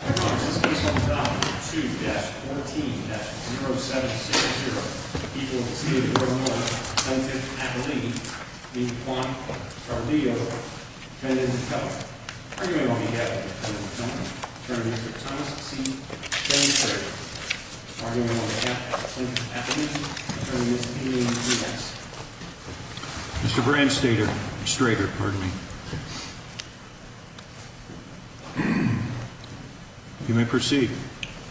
you. Bt Council, you hurt Ms. Brand Strader. You may proceed.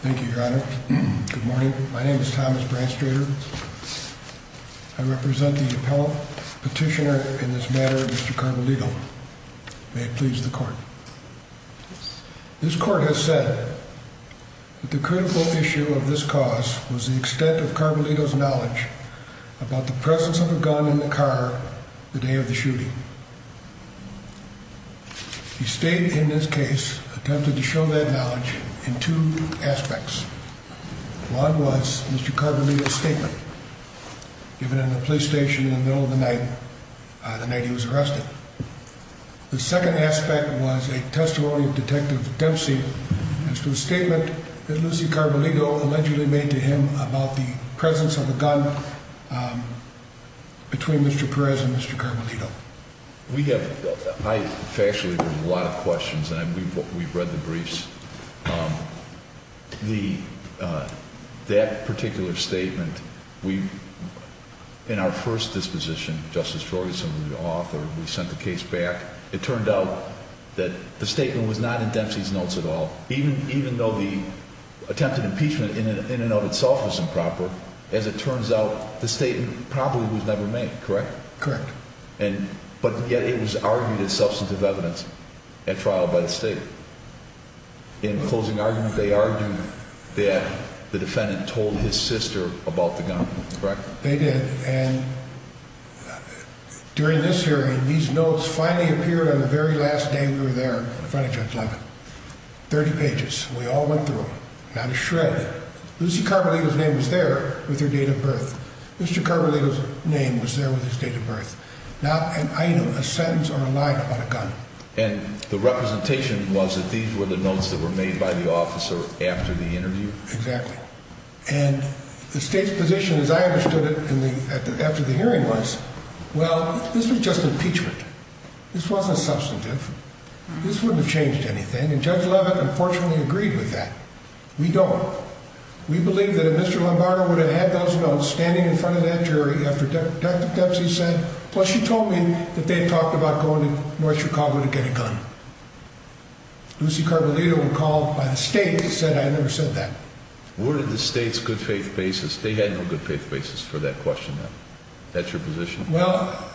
Thank you, Your Honor. Good morning. My name is Thomas Brand Strader. I represent the appellate petitioner in this matter, Mr. Carvalito. May it please the court. This court has said that the critical issue of this cause was the extent of Carvalito's knowledge about the presence of a gun in the car the day of the shooting. He stayed in his case, attempted to show that knowledge in two aspects. One was Mr. Carvalito's statement given in the police station in the middle of the night, the night he was arrested. The second aspect was a testimony of Detective Dempsey as to the statement that Lucy Carvalito allegedly made to him about the presence of a gun between Mr. Perez and Mr. Carvalito. We have, factually, there's a lot of questions, and we've read the briefs. That particular statement, in our first disposition, Justice Ferguson, the author, we sent the case back. It turned out that the statement was not in Dempsey's notes at all. Even though the attempted impeachment in and of itself was improper, as it turns out, the statement probably was never made, correct? Correct. But yet it was argued as substantive evidence at trial by the state. In closing argument, they argued that the defendant told his sister about the gun, correct? They did. And during this hearing, these notes finally appeared on the very last day we were there in front of Judge Levin. 30 pages. We all went through them, not a shred. Lucy Carvalito's name was there with her date of birth. Mr. Carvalito's name was there with his date of birth. Not an item, a sentence, or a line about a gun. And the representation was that these were the notes that were made by the officer after the interview? Exactly. And the state's position, as I understood it after the hearing was, well, this was just impeachment. This wasn't substantive. This wouldn't have changed anything. And Judge Levin, unfortunately, agreed with that. We don't. We believe that Mr. Lombardo would have had those notes standing in front of that jury after Dr. Dempsey said, well, she told me that they talked about going to North Chicago to get a gun. Lucy Carvalito, when called by the state, said, I never said that. Where did the state's good faith basis, they had no good faith basis for that question then? That's your position? Well,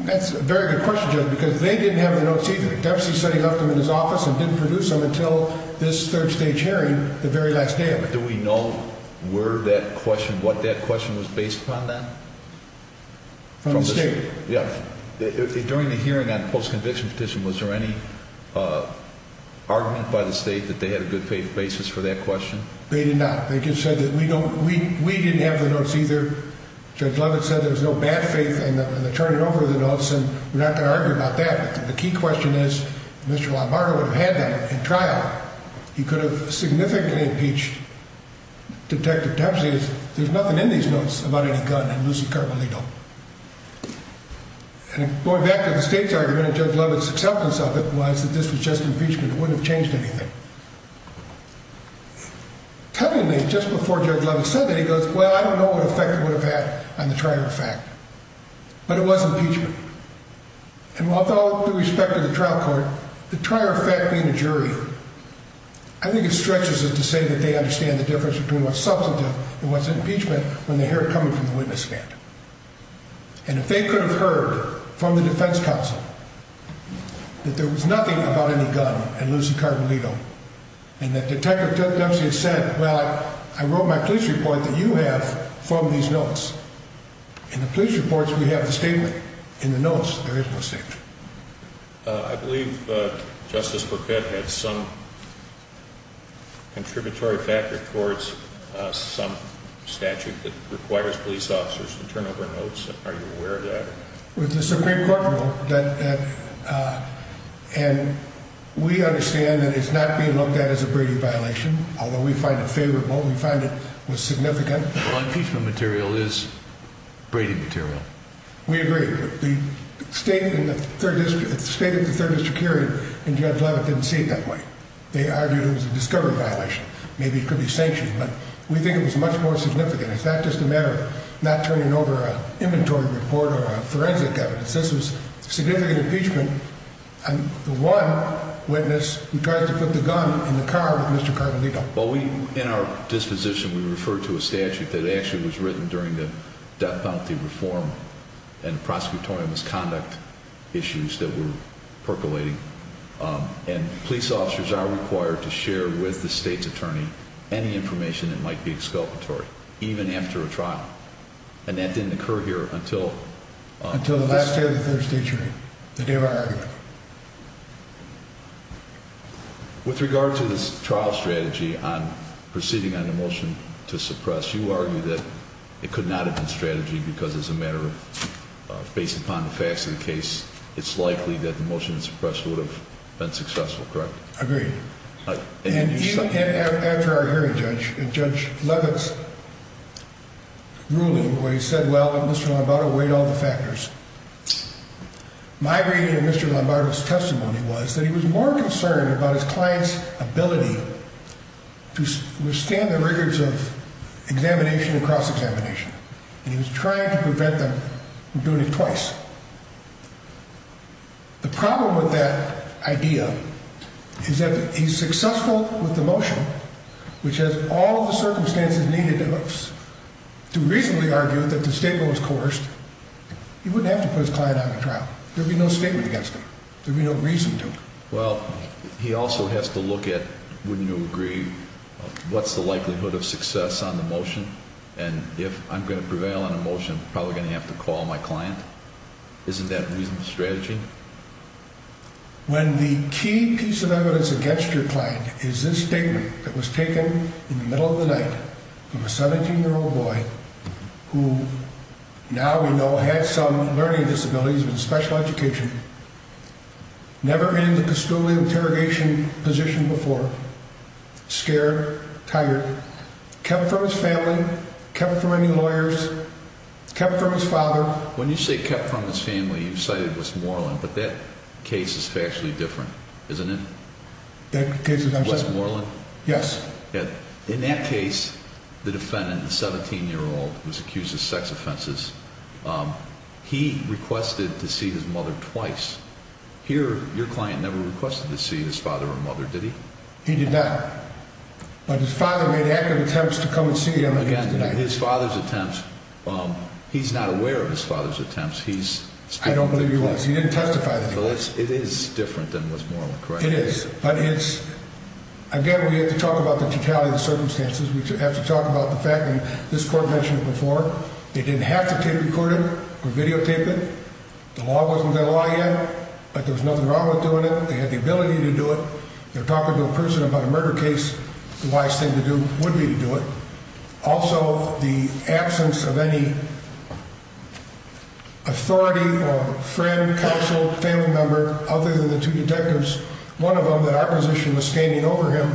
that's a very good question, Judge, because they didn't have the notes either. Dempsey said he left them in his office and didn't produce them until this third stage hearing, the very last day of it. Do we know where that question, what that question was based upon then? From the state? Yeah. During the hearing on the post-conviction petition, was there any argument by the state that they had a good faith basis for that question? They did not. They just said that we don't, we didn't have the notes either. Judge Levin said there was no bad faith in turning over the notes, and we're not going to argue about that. But the key question is, Mr. Lombardo would have had that in trial. He could have significantly impeached Detective Dempsey. The key question is, there's nothing in these notes about any gun in Lucy Carpolino. And going back to the state's argument and Judge Levin's acceptance of it was that this was just impeachment. It wouldn't have changed anything. Telling me just before Judge Levin said that, he goes, well, I don't know what effect it would have had on the trier of fact, but it was impeachment. And with all due respect to the trial court, the trier of fact being a jury, I think it stretches to say that they understand the difference between what's substantive and what's impeachment when they hear it coming from the witness stand. And if they could have heard from the defense counsel that there was nothing about any gun in Lucy Carpolino, and that Detective Dempsey had said, well, I wrote my police report that you have from these notes. In the police reports, we have a statement. In the notes, there is no statement. I believe Justice Burkett had some contributory factor towards some statute that requires police officers to turn over notes. Are you aware of that? With the Supreme Court rule, and we understand that it's not being looked at as a Brady violation, although we find it favorable. We find it was significant. Well, impeachment material is Brady material. We agree. The state in the third district, the state of the third district hearing, didn't see it that way. They argued it was a discovery violation. Maybe it could be sanctioned, but we think it was much more significant. It's not just a matter of not turning over an inventory report or a forensic evidence. This was significant impeachment. And the one witness who tried to put the gun in the car was Mr. Carpolino. Well, we, in our disposition, we refer to a statute that actually was written during the death penalty reform and prosecutorial misconduct issues that were percolating. And police officers are required to share with the state's attorney any information that might be exculpatory, even after a trial. And that didn't occur here until the last day of the third district hearing, the day of our argument. With regard to this trial strategy on proceeding on the motion to suppress, you argue that it could not have been strategy because as a matter of based upon the facts of the case, it's likely that the motion to suppress would have been successful, correct? Agreed. And after our hearing, Judge Leavitt's ruling where he said, well, Mr. Lombardo weighed all the factors. My reading of Mr. Lombardo's testimony was that he was more concerned about his client's ability to withstand the rigors of examination and cross-examination. And he was trying to prevent them from doing it twice. The problem with that idea is that he's successful with the motion, which has all the circumstances needed to reasonably argue that the statement was coerced. He wouldn't have to put his client on the trial. There would be no statement against him. There would be no reason to. Well, he also has to look at, wouldn't you agree, what's the likelihood of success on the motion? And if I'm going to prevail on a motion, I'm probably going to have to call my client. Isn't that reasonable strategy? When the key piece of evidence against your client is this statement that was taken in the middle of the night from a 17-year-old boy who now we know has some learning disabilities with a special education, never been in the custodial interrogation position before, scared, tired, kept from his family, kept from any lawyers, kept from his father. When you say kept from his family, you've cited Westmoreland, but that case is factually different, isn't it? Westmoreland? Yes. In that case, the defendant, the 17-year-old, was accused of sex offenses. He requested to see his mother twice. Here, your client never requested to see his father or mother, did he? He did not. But his father made accurate attempts to come and see him. Again, in his father's attempts, he's not aware of his father's attempts. I don't believe he was. He didn't testify. It is different than Westmoreland, correct? It is. But it's, again, we have to talk about the totality of the circumstances. We have to talk about the fact, and this court mentioned it before, they didn't have to tape record it or videotape it. The law wasn't that law yet, but there was nothing wrong with doing it. They had the ability to do it. They're talking to a person about a murder case. The wise thing to do would be to do it. Also, the absence of any authority or friend, counsel, family member other than the two detectives, one of them that our position was standing over him,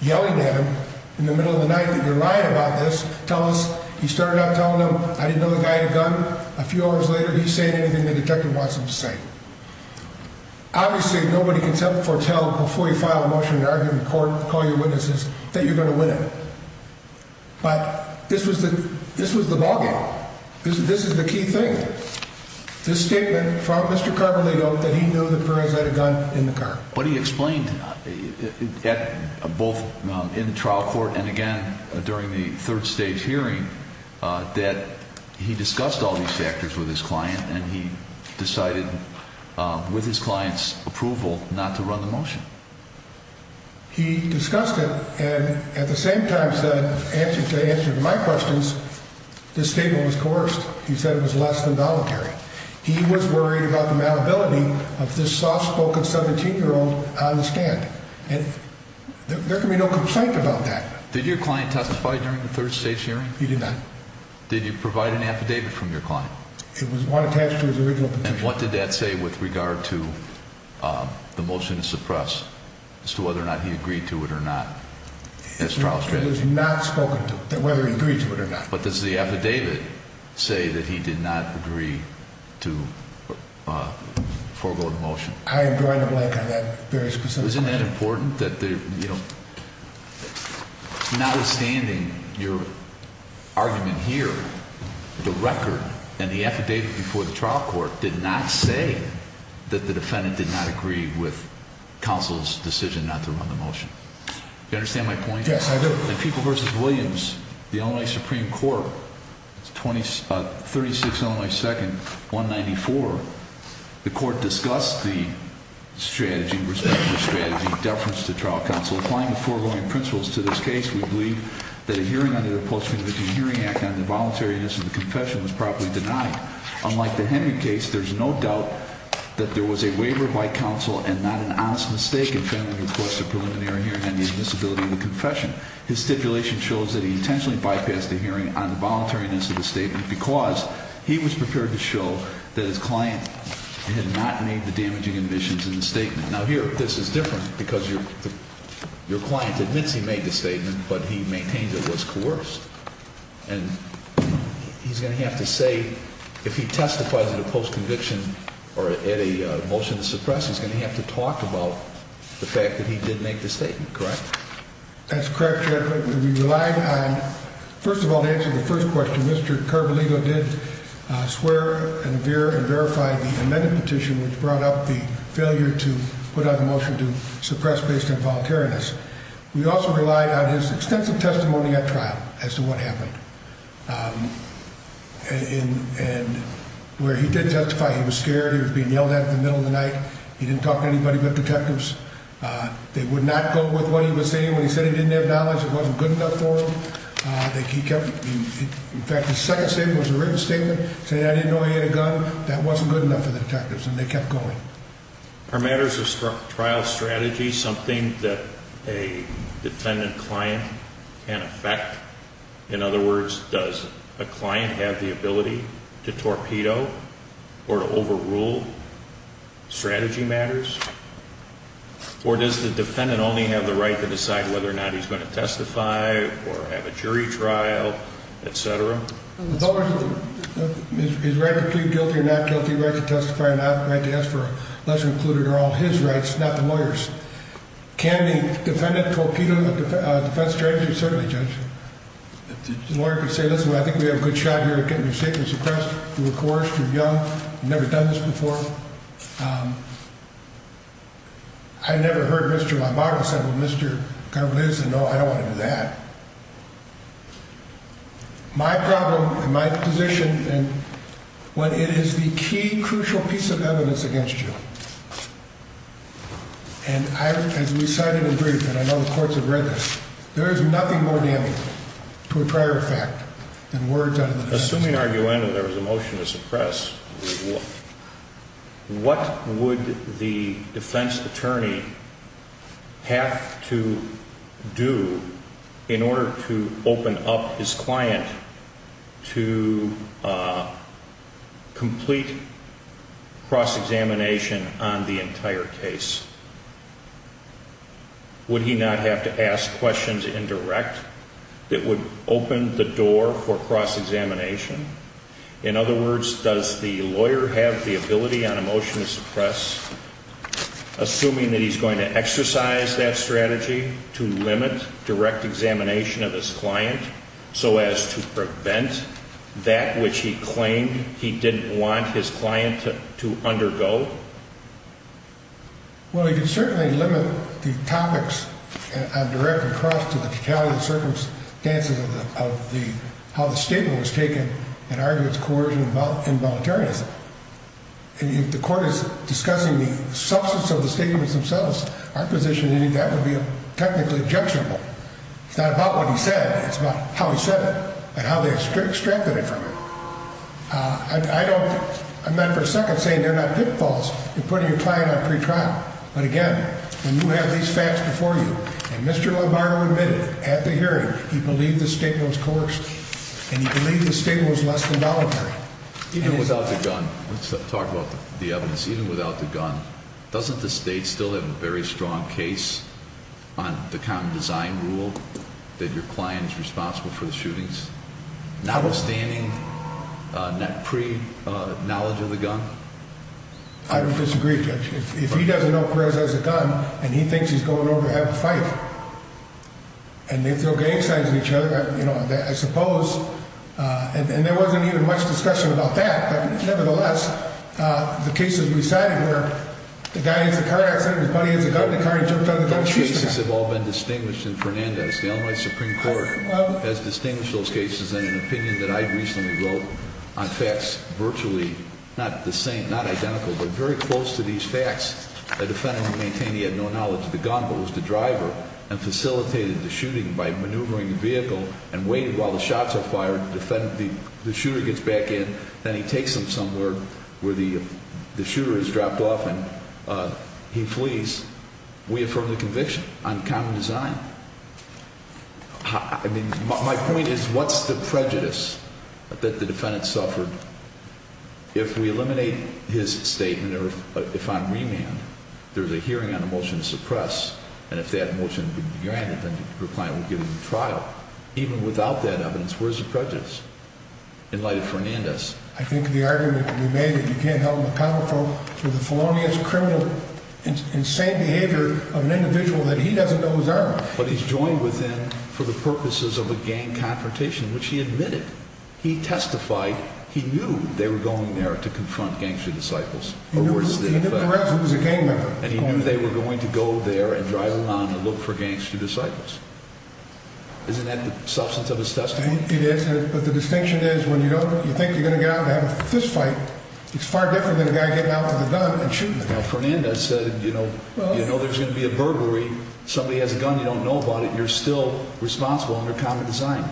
yelling at him in the middle of the night that you're lying about this. Tell us. He started out telling them I didn't know the guy had a gun. A few hours later, he's saying anything the detective wants him to say. Obviously, nobody can foretell before you file a motion in an argument in court, call your witnesses, that you're going to win it. But this was the ballgame. This is the key thing. This statement from Mr. Carvalho that he knew that Perez had a gun in the car. But he explained both in the trial court and again during the third stage hearing that he discussed all these factors with his client, and he decided with his client's approval not to run the motion. He discussed it and at the same time said, to answer my questions, this statement was coerced. He said it was less than voluntary. He was worried about the malleability of this soft-spoken 17-year-old on the stand. And there can be no complaint about that. Did your client testify during the third stage hearing? He did not. Did you provide an affidavit from your client? It was one attached to his original petition. And what did that say with regard to the motion to suppress as to whether or not he agreed to it or not? It was not spoken to, whether he agreed to it or not. But does the affidavit say that he did not agree to forego the motion? I am drawing a blank on that very specific question. Isn't that important that, you know, notwithstanding your argument here, the record and the affidavit before the trial court did not say that the defendant did not agree with counsel's decision not to run the motion. Do you understand my point? Yes, I do. In People v. Williams, the Illinois Supreme Court, 36 Illinois 2nd, 194, the court discussed the strategy, respective strategy, deference to trial counsel. Applying the foregoing principles to this case, we believe that a hearing under the Post-Conviction Hearing Act on the voluntariness of the confession was properly denied. Unlike the Henry case, there is no doubt that there was a waiver by counsel and not an honest mistake in failing to request a preliminary hearing on the admissibility of the confession. His stipulation shows that he intentionally bypassed the hearing on the voluntariness of the statement because he was prepared to show that his client had not made the damaging admissions in the statement. Now, here, this is different because your client admits he made the statement, but he maintains it was coerced. And he's going to have to say, if he testifies at a post-conviction or at a motion to suppress, he's going to have to talk about the fact that he did make the statement, correct? That's correct, Judge. We relied on, first of all, to answer the first question, Mr. Carbolino did swear and veer and verify the amended petition, which brought up the failure to put out the motion to suppress based on voluntariness. We also relied on his extensive testimony at trial as to what happened. And where he did testify, he was scared, he was being yelled at in the middle of the night, he didn't talk to anybody but detectives. They would not go with what he was saying when he said he didn't have knowledge, it wasn't good enough for him. In fact, his second statement was a written statement, saying I didn't know he had a gun, that wasn't good enough for the detectives, and they kept going. Are matters of trial strategy something that a defendant-client can affect? In other words, does a client have the ability to torpedo or to overrule strategy matters? Or does the defendant only have the right to decide whether or not he's going to testify or have a jury trial, etc.? It's always his right to plead guilty or not guilty, right to testify or not, right to ask for a lesser included are all his rights, not the lawyer's. Can a defendant torpedo a defense strategy? Certainly, Judge. The lawyer could say, listen, I think we have a good shot here at getting you safely suppressed. You were coerced, you were young, you've never done this before. I never heard Mr. LaMaro say, well, Mr. Carvalho said, no, I don't want to do that. My problem, my position, when it is the key, crucial piece of evidence against you, and as we cited in the brief, and I know the courts have read this, there is nothing more damning to a prior effect than words out of the defense attorney's mouth. Assuming, arguably, there was a motion to suppress, what would the defense attorney have to do in order to open up his client to complete cross-examination on the entire case? Would he not have to ask questions indirect that would open the door for cross-examination? In other words, does the lawyer have the ability on a motion to suppress, assuming that he's going to exercise that strategy to limit direct examination of his client so as to prevent that which he claimed he didn't want his client to undergo? Well, he can certainly limit the topics on direct and cross to the detailed circumstances of how the statement was taken and arguments of coercion and involuntariness. If the court is discussing the substance of the statements themselves, our position is that would be technically objectionable. It's not about what he said, it's about how he said it and how they extracted it from him. I'm not for a second saying they're not pitfalls in putting your client on pretrial. But again, when you have these facts before you, and Mr. Lombardo admitted at the hearing he believed the statement was coerced and he believed the statement was less than voluntary. Even without the gun, let's talk about the evidence. Even without the gun, doesn't the state still have a very strong case on the common design rule that your client is responsible for the shootings? Notwithstanding that pre-knowledge of the gun? I don't disagree, Judge. If he doesn't know Perez has a gun and he thinks he's going over to have a fight and they throw gang signs at each other, I suppose, and there wasn't even much discussion about that. Nevertheless, the cases we cited where the guy has a car accident, his buddy has a gun, the guy jumped out of the car and shoots him. Those cases have all been distinguished in Fernandez. The Illinois Supreme Court has distinguished those cases in an opinion that I recently wrote on facts virtually not the same, not identical, but very close to these facts. The defendant will maintain he had no knowledge of the gun, but was the driver and facilitated the shooting by maneuvering the vehicle and waited while the shots are fired to defend. The shooter gets back in, then he takes him somewhere where the shooter has dropped off and he flees. We affirm the conviction on common design. My point is, what's the prejudice that the defendant suffered? If we eliminate his statement or if I'm remanded, there's a hearing on a motion to suppress. And if that motion could be granted, then your client would give him a trial. Even without that evidence, where's the prejudice? In light of Fernandez. I think the argument would be made that you can't help the powerful with the felonious, criminal, insane behavior of an individual that he doesn't know his arm. But he's joined with him for the purposes of a gang confrontation, which he admitted. He testified he knew they were going there to confront gangster disciples. He knew who was the gang member. And he knew they were going to go there and drive along and look for gangster disciples. Isn't that the substance of his testimony? It is. But the distinction is when you think you're going to get out and have a fist fight, it's far different than a guy getting out with a gun and shooting. Now, Fernandez said, you know, there's going to be a burglary. Somebody has a gun. You don't know about it. You're still responsible under common design.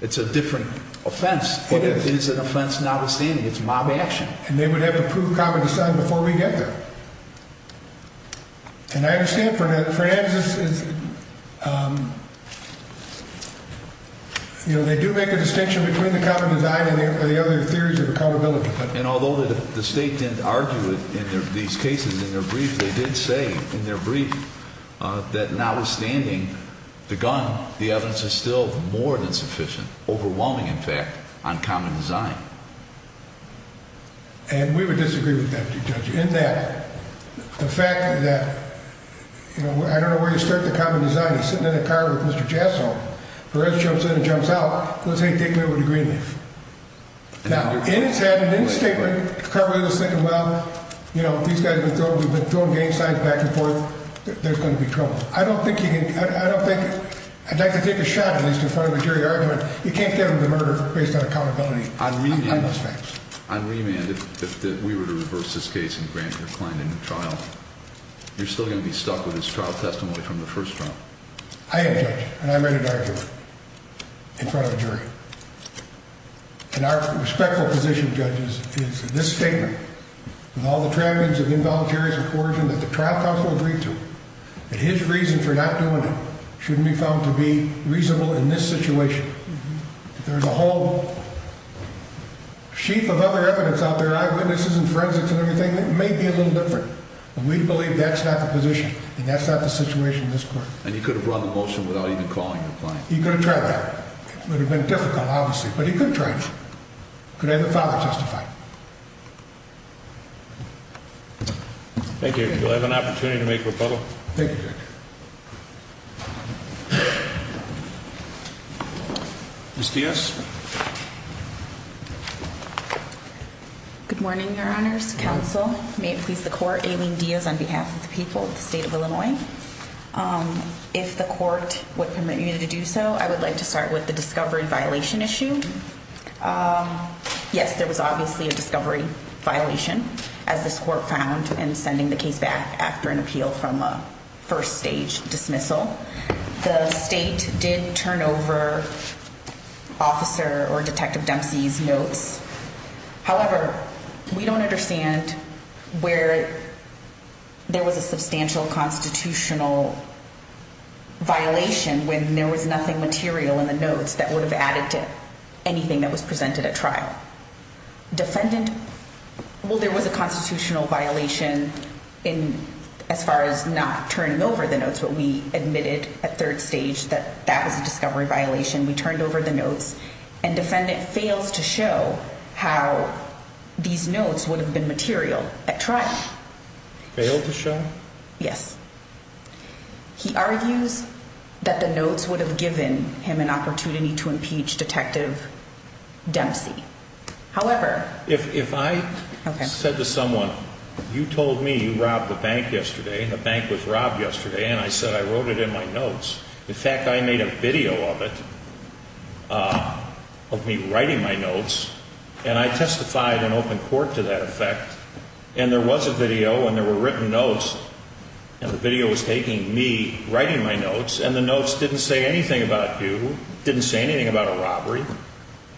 It's a different offense. It is. It is an offense notwithstanding. It's mob action. And they would have to prove common design before we get there. And I understand Fernandez is, you know, they do make a distinction between the common design and the other theories of accountability. And although the state didn't argue it in these cases in their brief, they did say in their brief that notwithstanding the gun, the evidence is still more than sufficient, overwhelming, in fact, on common design. And we would disagree with that, Judge, in that the fact that, you know, I don't know where you start the common design. He's sitting in a car with Mr. Jasso. Perez jumps in and jumps out. Let's say he takes me over to Greenleaf. Now, in his statement, Carver was thinking, well, you know, these guys have been throwing game signs back and forth. There's going to be trouble. I don't think he can, I don't think, I'd like to take a shot at least in front of a jury argument. You can't get him to murder based on accountability. On remand, if we were to reverse this case and grant your client a new trial, you're still going to be stuck with his trial testimony from the first trial. I am, Judge, and I'm ready to argue it in front of a jury. And our respectful position, Judge, is that this statement, with all the trappings of involuntary coercion that the trial counsel agreed to, that his reason for not doing it should be found to be reasonable in this situation. There's a whole sheaf of other evidence out there, eyewitnesses and forensics and everything, that may be a little different. And we believe that's not the position, and that's not the situation in this court. And he could have run the motion without even calling your client? He could have tried that. It would have been difficult, obviously, but he could have tried it. He could have had the father testify. Thank you. Do I have an opportunity to make a rebuttal? Thank you, Judge. Ms. Diaz? Good morning, Your Honors. Counsel, may it please the Court, Aileen Diaz on behalf of the people of the state of Illinois. If the Court would permit me to do so, I would like to start with the discovery violation issue. Yes, there was obviously a discovery violation, as this Court found in sending the case back after an appeal from a first-stage dismissal. The state did turn over Officer or Detective Dempsey's notes. However, we don't understand where there was a substantial constitutional violation when there was nothing material in the notes that would have added to anything that was presented at trial. Well, there was a constitutional violation as far as not turning over the notes, but we admitted at third stage that that was a discovery violation. We turned over the notes, and defendant fails to show how these notes would have been material at trial. Failed to show? Yes. He argues that the notes would have given him an opportunity to impeach Detective Dempsey. However... If I said to someone, you told me you robbed the bank yesterday, and the bank was robbed yesterday, and I said I wrote it in my notes. In fact, I made a video of it, of me writing my notes, and I testified in open court to that effect. And there was a video, and there were written notes, and the video was taking me writing my notes, and the notes didn't say anything about you, didn't say anything about a robbery.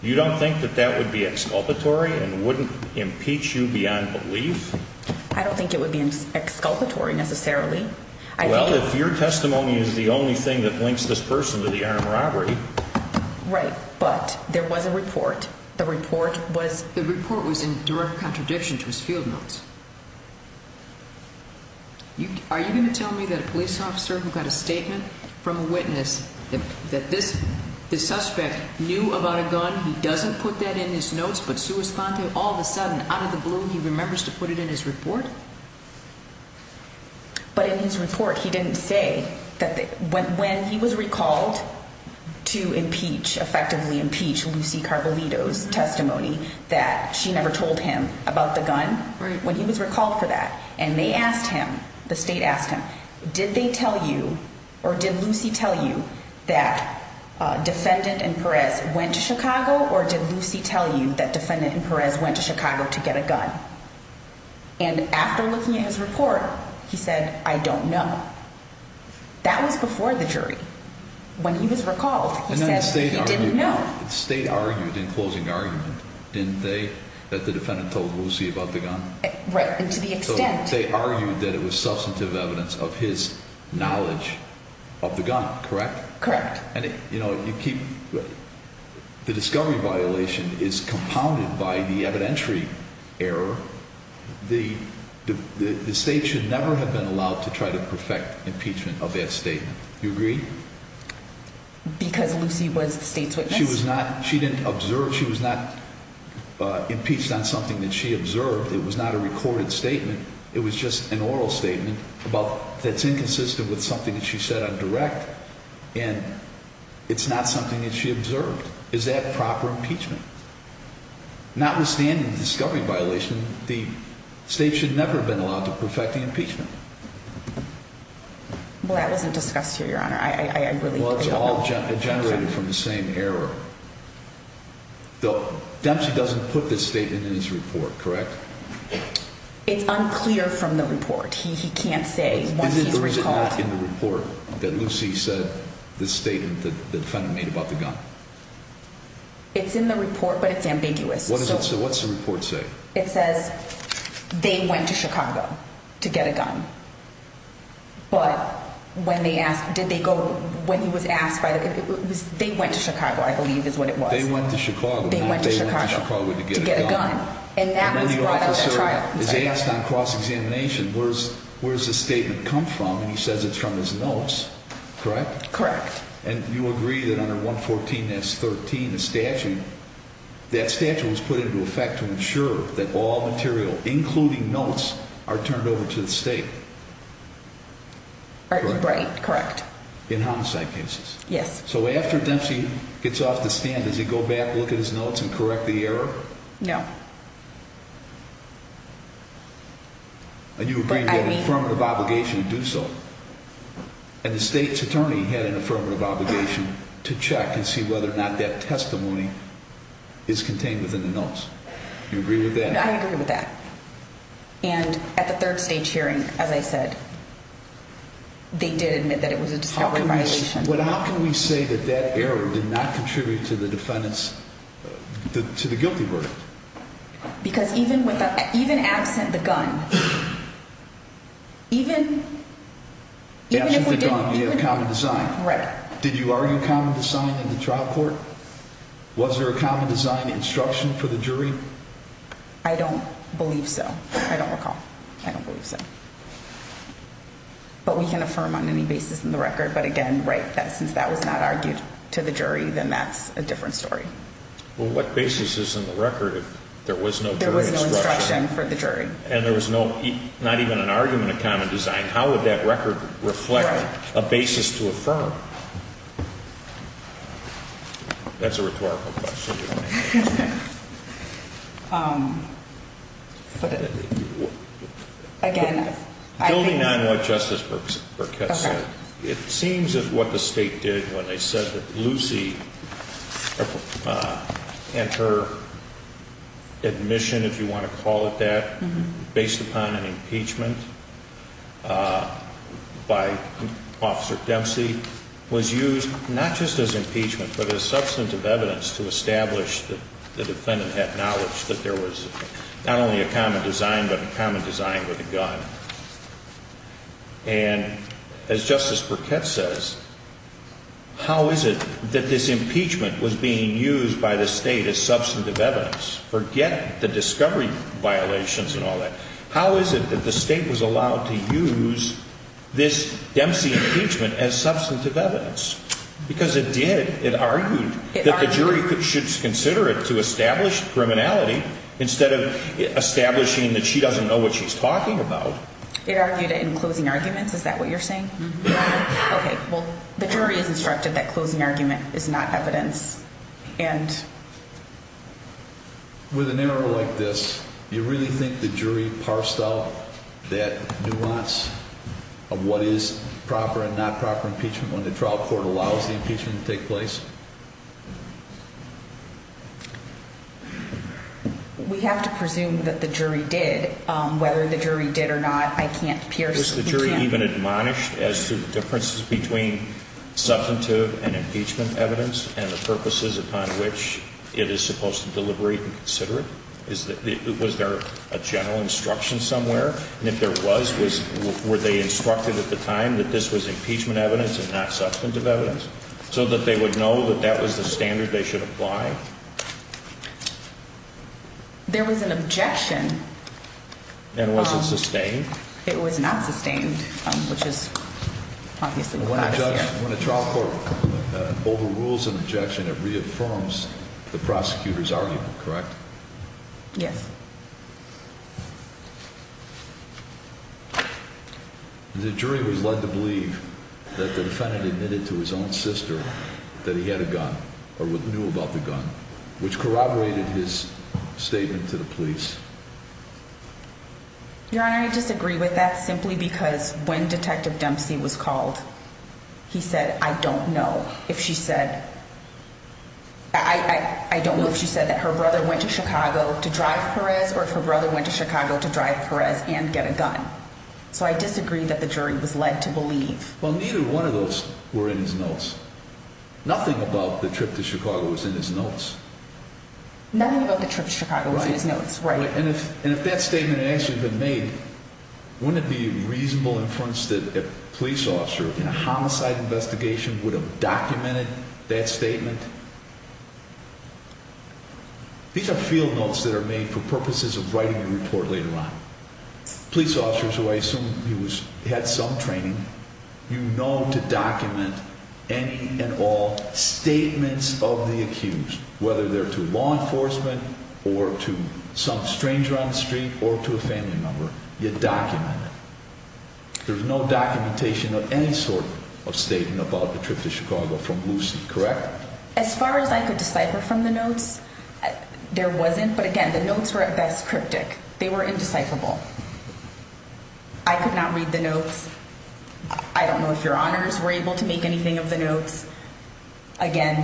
You don't think that that would be exculpatory and wouldn't impeach you beyond belief? I don't think it would be exculpatory necessarily. Well, if your testimony is the only thing that links this person to the armed robbery... Right, but there was a report. The report was... Are you going to tell me that a police officer who got a statement from a witness that this suspect knew about a gun, he doesn't put that in his notes, but all of a sudden, out of the blue, he remembers to put it in his report? But in his report, he didn't say that when he was recalled to impeach, effectively impeach, Lucy Carbolito's testimony, that she never told him about the gun. When he was recalled for that, and they asked him, the state asked him, did they tell you, or did Lucy tell you that a defendant in Perez went to Chicago, or did Lucy tell you that defendant in Perez went to Chicago to get a gun? And after looking at his report, he said, I don't know. That was before the jury. When he was recalled, he said he didn't know. And then the state argued in closing argument, didn't they, that the defendant told Lucy about the gun? Right, and to the extent... So they argued that it was substantive evidence of his knowledge of the gun, correct? Correct. The discovery violation is compounded by the evidentiary error. The state should never have been allowed to try to perfect impeachment of that statement. Do you agree? Because Lucy was the state's witness? She was not, she didn't observe, she was not impeached on something that she observed. It was not a recorded statement. It was just an oral statement about, that's inconsistent with something that she said on direct, and it's not something that she observed. Is that proper impeachment? Notwithstanding the discovery violation, the state should never have been allowed to perfect the impeachment. Well, that wasn't discussed here, Your Honor. I really don't know. It's all generated from the same error. Dempsey doesn't put this statement in his report, correct? It's unclear from the report. He can't say once he's recalled. Is it not in the report that Lucy said the statement that the defendant made about the gun? It's in the report, but it's ambiguous. So what's the report say? It says they went to Chicago to get a gun. But when he was asked, they went to Chicago, I believe is what it was. They went to Chicago. They went to Chicago to get a gun. And now the officer is asked on cross-examination, where's this statement come from? And he says it's from his notes, correct? Correct. And you agree that under 114 S 13, the statute, that statute was put into effect to ensure that all material, including notes, are turned over to the state. Right, correct. In homicide cases. Yes. So after Dempsey gets off the stand, does he go back, look at his notes and correct the error? No. And you agree to get an affirmative obligation to do so. And the state's attorney had an affirmative obligation to check and see whether or not that testimony is contained within the notes. You agree with that? I agree with that. And at the third stage hearing, as I said, they did admit that it was a discovery violation. How can we say that that error did not contribute to the defendant's, to the guilty verdict? Because even with, even absent the gun, even, even if we didn't. Absent the gun, you have common design. Right. Did you argue common design in the trial court? Was there a common design instruction for the jury? I don't believe so. I don't recall. I don't believe so. But we can affirm on any basis in the record. But again, right, since that was not argued to the jury, then that's a different story. Well, what basis is in the record if there was no jury instruction? There was no instruction for the jury. And there was no, not even an argument of common design. How would that record reflect a basis to affirm? Right. That's a rhetorical question. Um, but again, I think. Depending on what Justice Burkett said, it seems as what the state did when they said that Lucy and her admission, if you want to call it that, based upon an impeachment by Officer Dempsey was used not just as impeachment, but as substantive evidence to establish that the defendant had knowledge that there was not only a common design, but a common design with a gun. And as Justice Burkett says, how is it that this impeachment was being used by the state as substantive evidence? Forget the discovery violations and all that. How is it that the state was allowed to use this Dempsey impeachment as substantive evidence? Because it did. It argued that the jury should consider it to establish criminality instead of establishing that she doesn't know what she's talking about. It argued it in closing arguments. Is that what you're saying? Okay, well, the jury is instructed that closing argument is not evidence. With an error like this, you really think the jury parsed out that nuance of what is proper and not proper impeachment when the trial court allows the impeachment to take place? We have to presume that the jury did whether the jury did or not. Is the jury even admonished as to the differences between substantive and impeachment evidence and the purposes upon which it is supposed to deliberate and consider it? Was there a general instruction somewhere? And if there was, were they instructed at the time that this was impeachment evidence and not substantive evidence so that they would know that that was the standard they should apply? There was an objection. And was it sustained? It was not sustained, which is obviously what I hear. When a trial court overrules an objection, it reaffirms the prosecutor's argument, correct? Yes. The jury was led to believe that the defendant admitted to his own sister that he had a gun or what he knew about the gun, which corroborated his statement to the police. Your Honor, I disagree with that simply because when Detective Dempsey was called, he said, I don't know if she said. I don't know if she said that her brother went to Chicago to drive Perez or if her brother went to Chicago to drive Perez and get a gun. So I disagree that the jury was led to believe. Well, neither one of those were in his notes. Nothing about the trip to Chicago was in his notes. Nothing about the trip to Chicago was in his notes. Right. And if that statement had actually been made, wouldn't it be reasonable inference that a police officer in a homicide investigation would have documented that statement? These are field notes that are made for purposes of writing a report later on. Police officers who I assume had some training, you know, to document any and all statements of the accused, whether they're to law enforcement or to some stranger on the street or to a family member. You document it. There's no documentation of any sort of statement about the trip to Chicago from Lucy, correct? As far as I could decipher from the notes, there wasn't. But again, the notes were at best cryptic. They were indecipherable. I could not read the notes. I don't know if your honors were able to make anything of the notes. Again,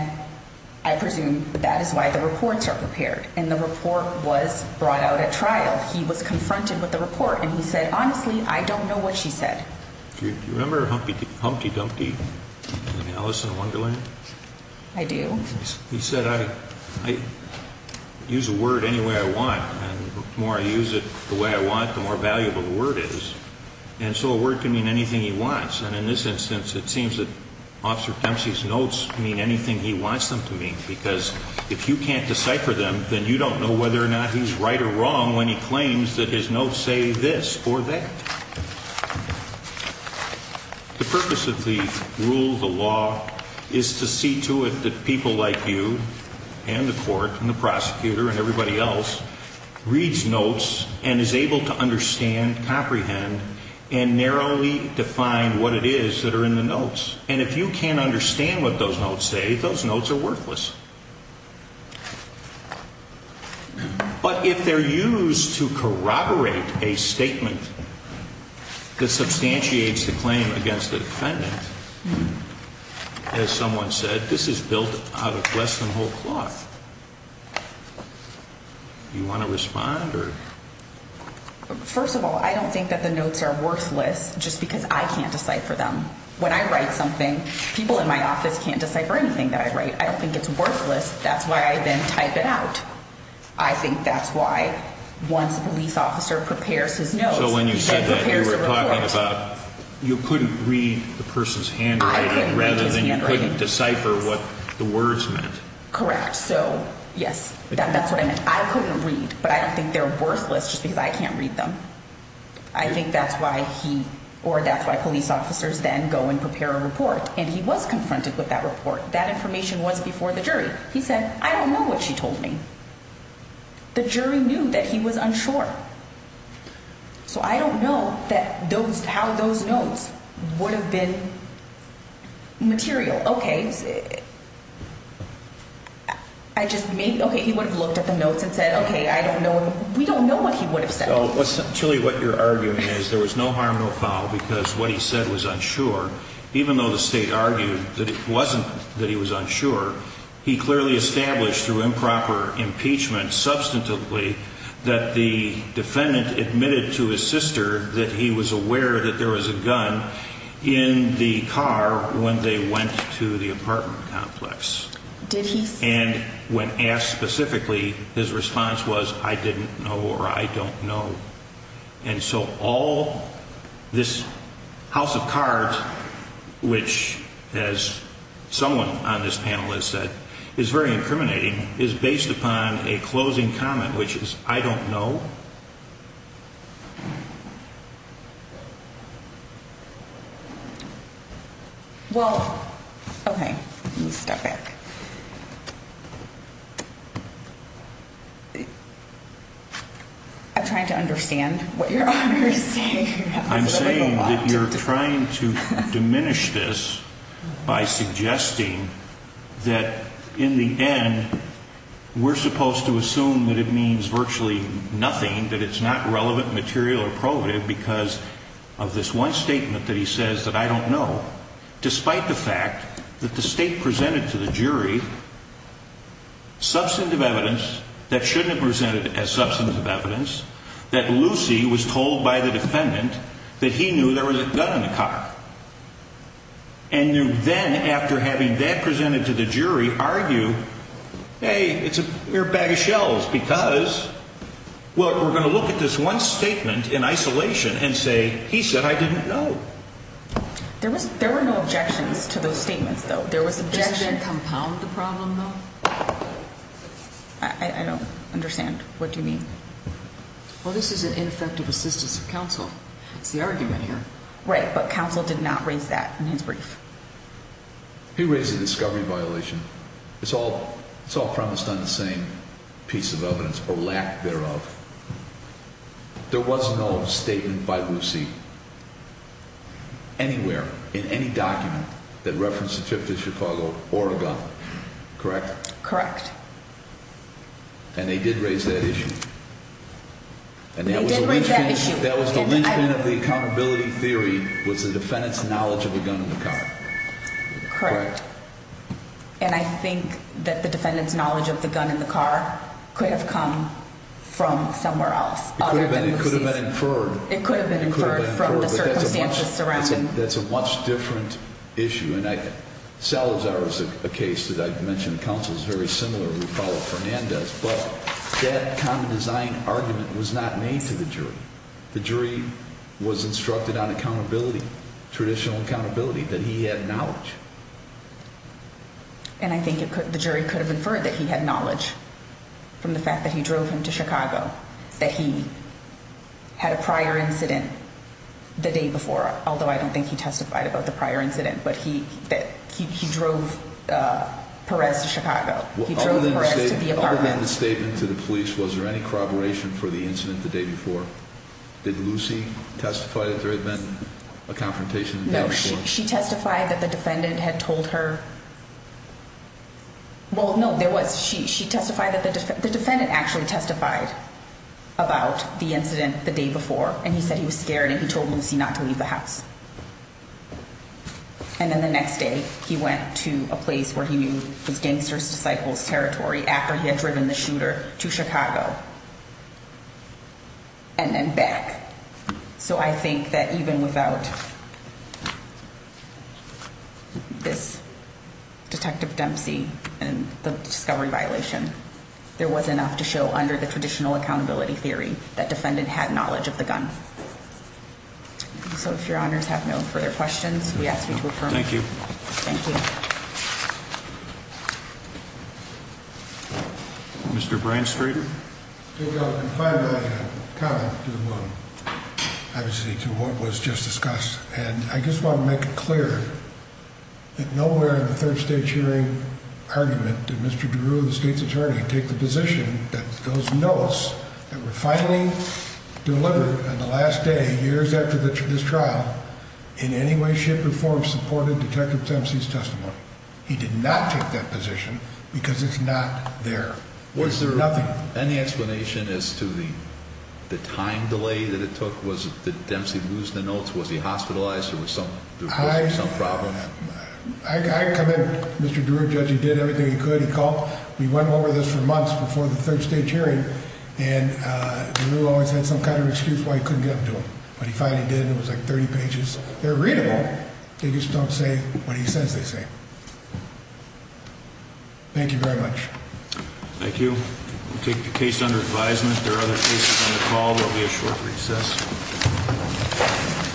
I presume that is why the reports are prepared. And the report was brought out at trial. He was confronted with the report, and he said, honestly, I don't know what she said. Do you remember Humpty Dumpty in Alice in Wonderland? I do. He said, I use a word any way I want, and the more I use it the way I want, the more valuable the word is. And so a word can mean anything he wants. And in this instance, it seems that Officer Dempsey's notes mean anything he wants them to mean. Because if you can't decipher them, then you don't know whether or not he's right or wrong when he claims that his notes say this or that. The purpose of the rule, the law, is to see to it that people like you and the court and the prosecutor and everybody else reads notes and is able to understand, comprehend, and narrowly define what it is that are in the notes. And if you can't understand what those notes say, those notes are worthless. But if they're used to corroborate a statement that substantiates the claim against the defendant, as someone said, this is built out of less than whole cloth. Do you want to respond? First of all, I don't think that the notes are worthless just because I can't decipher them. When I write something, people in my office can't decipher anything that I write. I don't think it's worthless. That's why I then type it out. I think that's why once a police officer prepares his notes and prepares a report... So when you said that, you were talking about you couldn't read the person's handwriting rather than you couldn't decipher what the words meant. Correct. So, yes, that's what I meant. I couldn't read, but I don't think they're worthless just because I can't read them. I think that's why he or that's why police officers then go and prepare a report. And he was confronted with that report. That information was before the jury. He said, I don't know what she told me. The jury knew that he was unsure. So I don't know how those notes would have been material. Okay, he would have looked at the notes and said, okay, I don't know. We don't know what he would have said. Julie, what you're arguing is there was no harm, no foul because what he said was unsure. Even though the state argued that it wasn't that he was unsure, he clearly established through improper impeachment substantively that the defendant admitted to his sister that he was aware that there was a gun in the car when they went to the apartment complex. Did he say that? And when asked specifically, his response was, I didn't know or I don't know. And so all this house of cards, which, as someone on this panel has said, is very incriminating, is based upon a closing comment, which is, I don't know. Well, okay. I'm trying to understand what you're saying. I'm saying that you're trying to diminish this by suggesting that in the end, we're supposed to assume that it means virtually nothing, that it's not relevant, material or probative because of this one statement that he says that I don't know. Despite the fact that the state presented to the jury substantive evidence that shouldn't have presented as substantive evidence, that Lucy was told by the defendant that he knew there was a gun in the car and then after having that presented to the jury argue, hey, it's a mere bag of shells because, well, we're going to look at this one statement in isolation and say, he said I didn't know. There were no objections to those statements, though. There was objection. Does that compound the problem, though? I don't understand. What do you mean? Well, this is an ineffective assistance of counsel. It's the argument here. Right. But counsel did not raise that in his brief. He raised a discovery violation. It's all promised on the same piece of evidence or lack thereof. There was no statement by Lucy anywhere in any document that referenced a trip to Chicago or a gun. Correct? Correct. And they did raise that issue. They did raise that issue. That was the linchpin of the accountability theory was the defendant's knowledge of a gun in the car. Correct. And I think that the defendant's knowledge of the gun in the car could have come from somewhere else other than Lucy's. It could have been inferred. It could have been inferred from the circumstances surrounding. That's a much different issue. And Salazar is a case that I've mentioned. Counsel is very similar. We follow Fernandez. But that common design argument was not made to the jury. The jury was instructed on accountability, traditional accountability, that he had knowledge. And I think the jury could have inferred that he had knowledge from the fact that he drove him to Chicago, that he had a prior incident the day before. Although I don't think he testified about the prior incident. But he drove Perez to Chicago. He drove Perez to the apartment. In the statement to the police, was there any corroboration for the incident the day before? Did Lucy testify that there had been a confrontation the day before? No. She testified that the defendant had told her. Well, no, there was. She testified that the defendant actually testified about the incident the day before. And he said he was scared and he told Lucy not to leave the house. And then the next day, he went to a place where he knew his gangster's disciples' territory after he had driven the shooter to Chicago. And then back. So I think that even without this Detective Dempsey and the discovery violation, there was enough to show under the traditional accountability theory that defendant had knowledge of the gun. So if your honors have no further questions, we ask you to affirm. Thank you. Thank you. Mr. Branstreet. I have a comment to what was just discussed. And I just want to make it clear that nowhere in the third state hearing argument did Mr. DeRue, the state's attorney, take the position that those notes that were finally delivered on the last day, years after this trial, in any way, shape, or form supported Detective Dempsey's testimony. He did not take that position because it's not there. Nothing. Was there any explanation as to the time delay that it took? Did Dempsey lose the notes? Was he hospitalized or was there some problem? I commend Mr. DeRue. Judge, he did everything he could. He called. He went over this for months before the third state hearing. And DeRue always had some kind of excuse why he couldn't get them to him. But he finally did. It was like 30 pages. They're readable. They just don't say what he says they say. Thank you very much. Thank you. We'll take the case under advisement. If there are other cases on the call, there will be a short recess.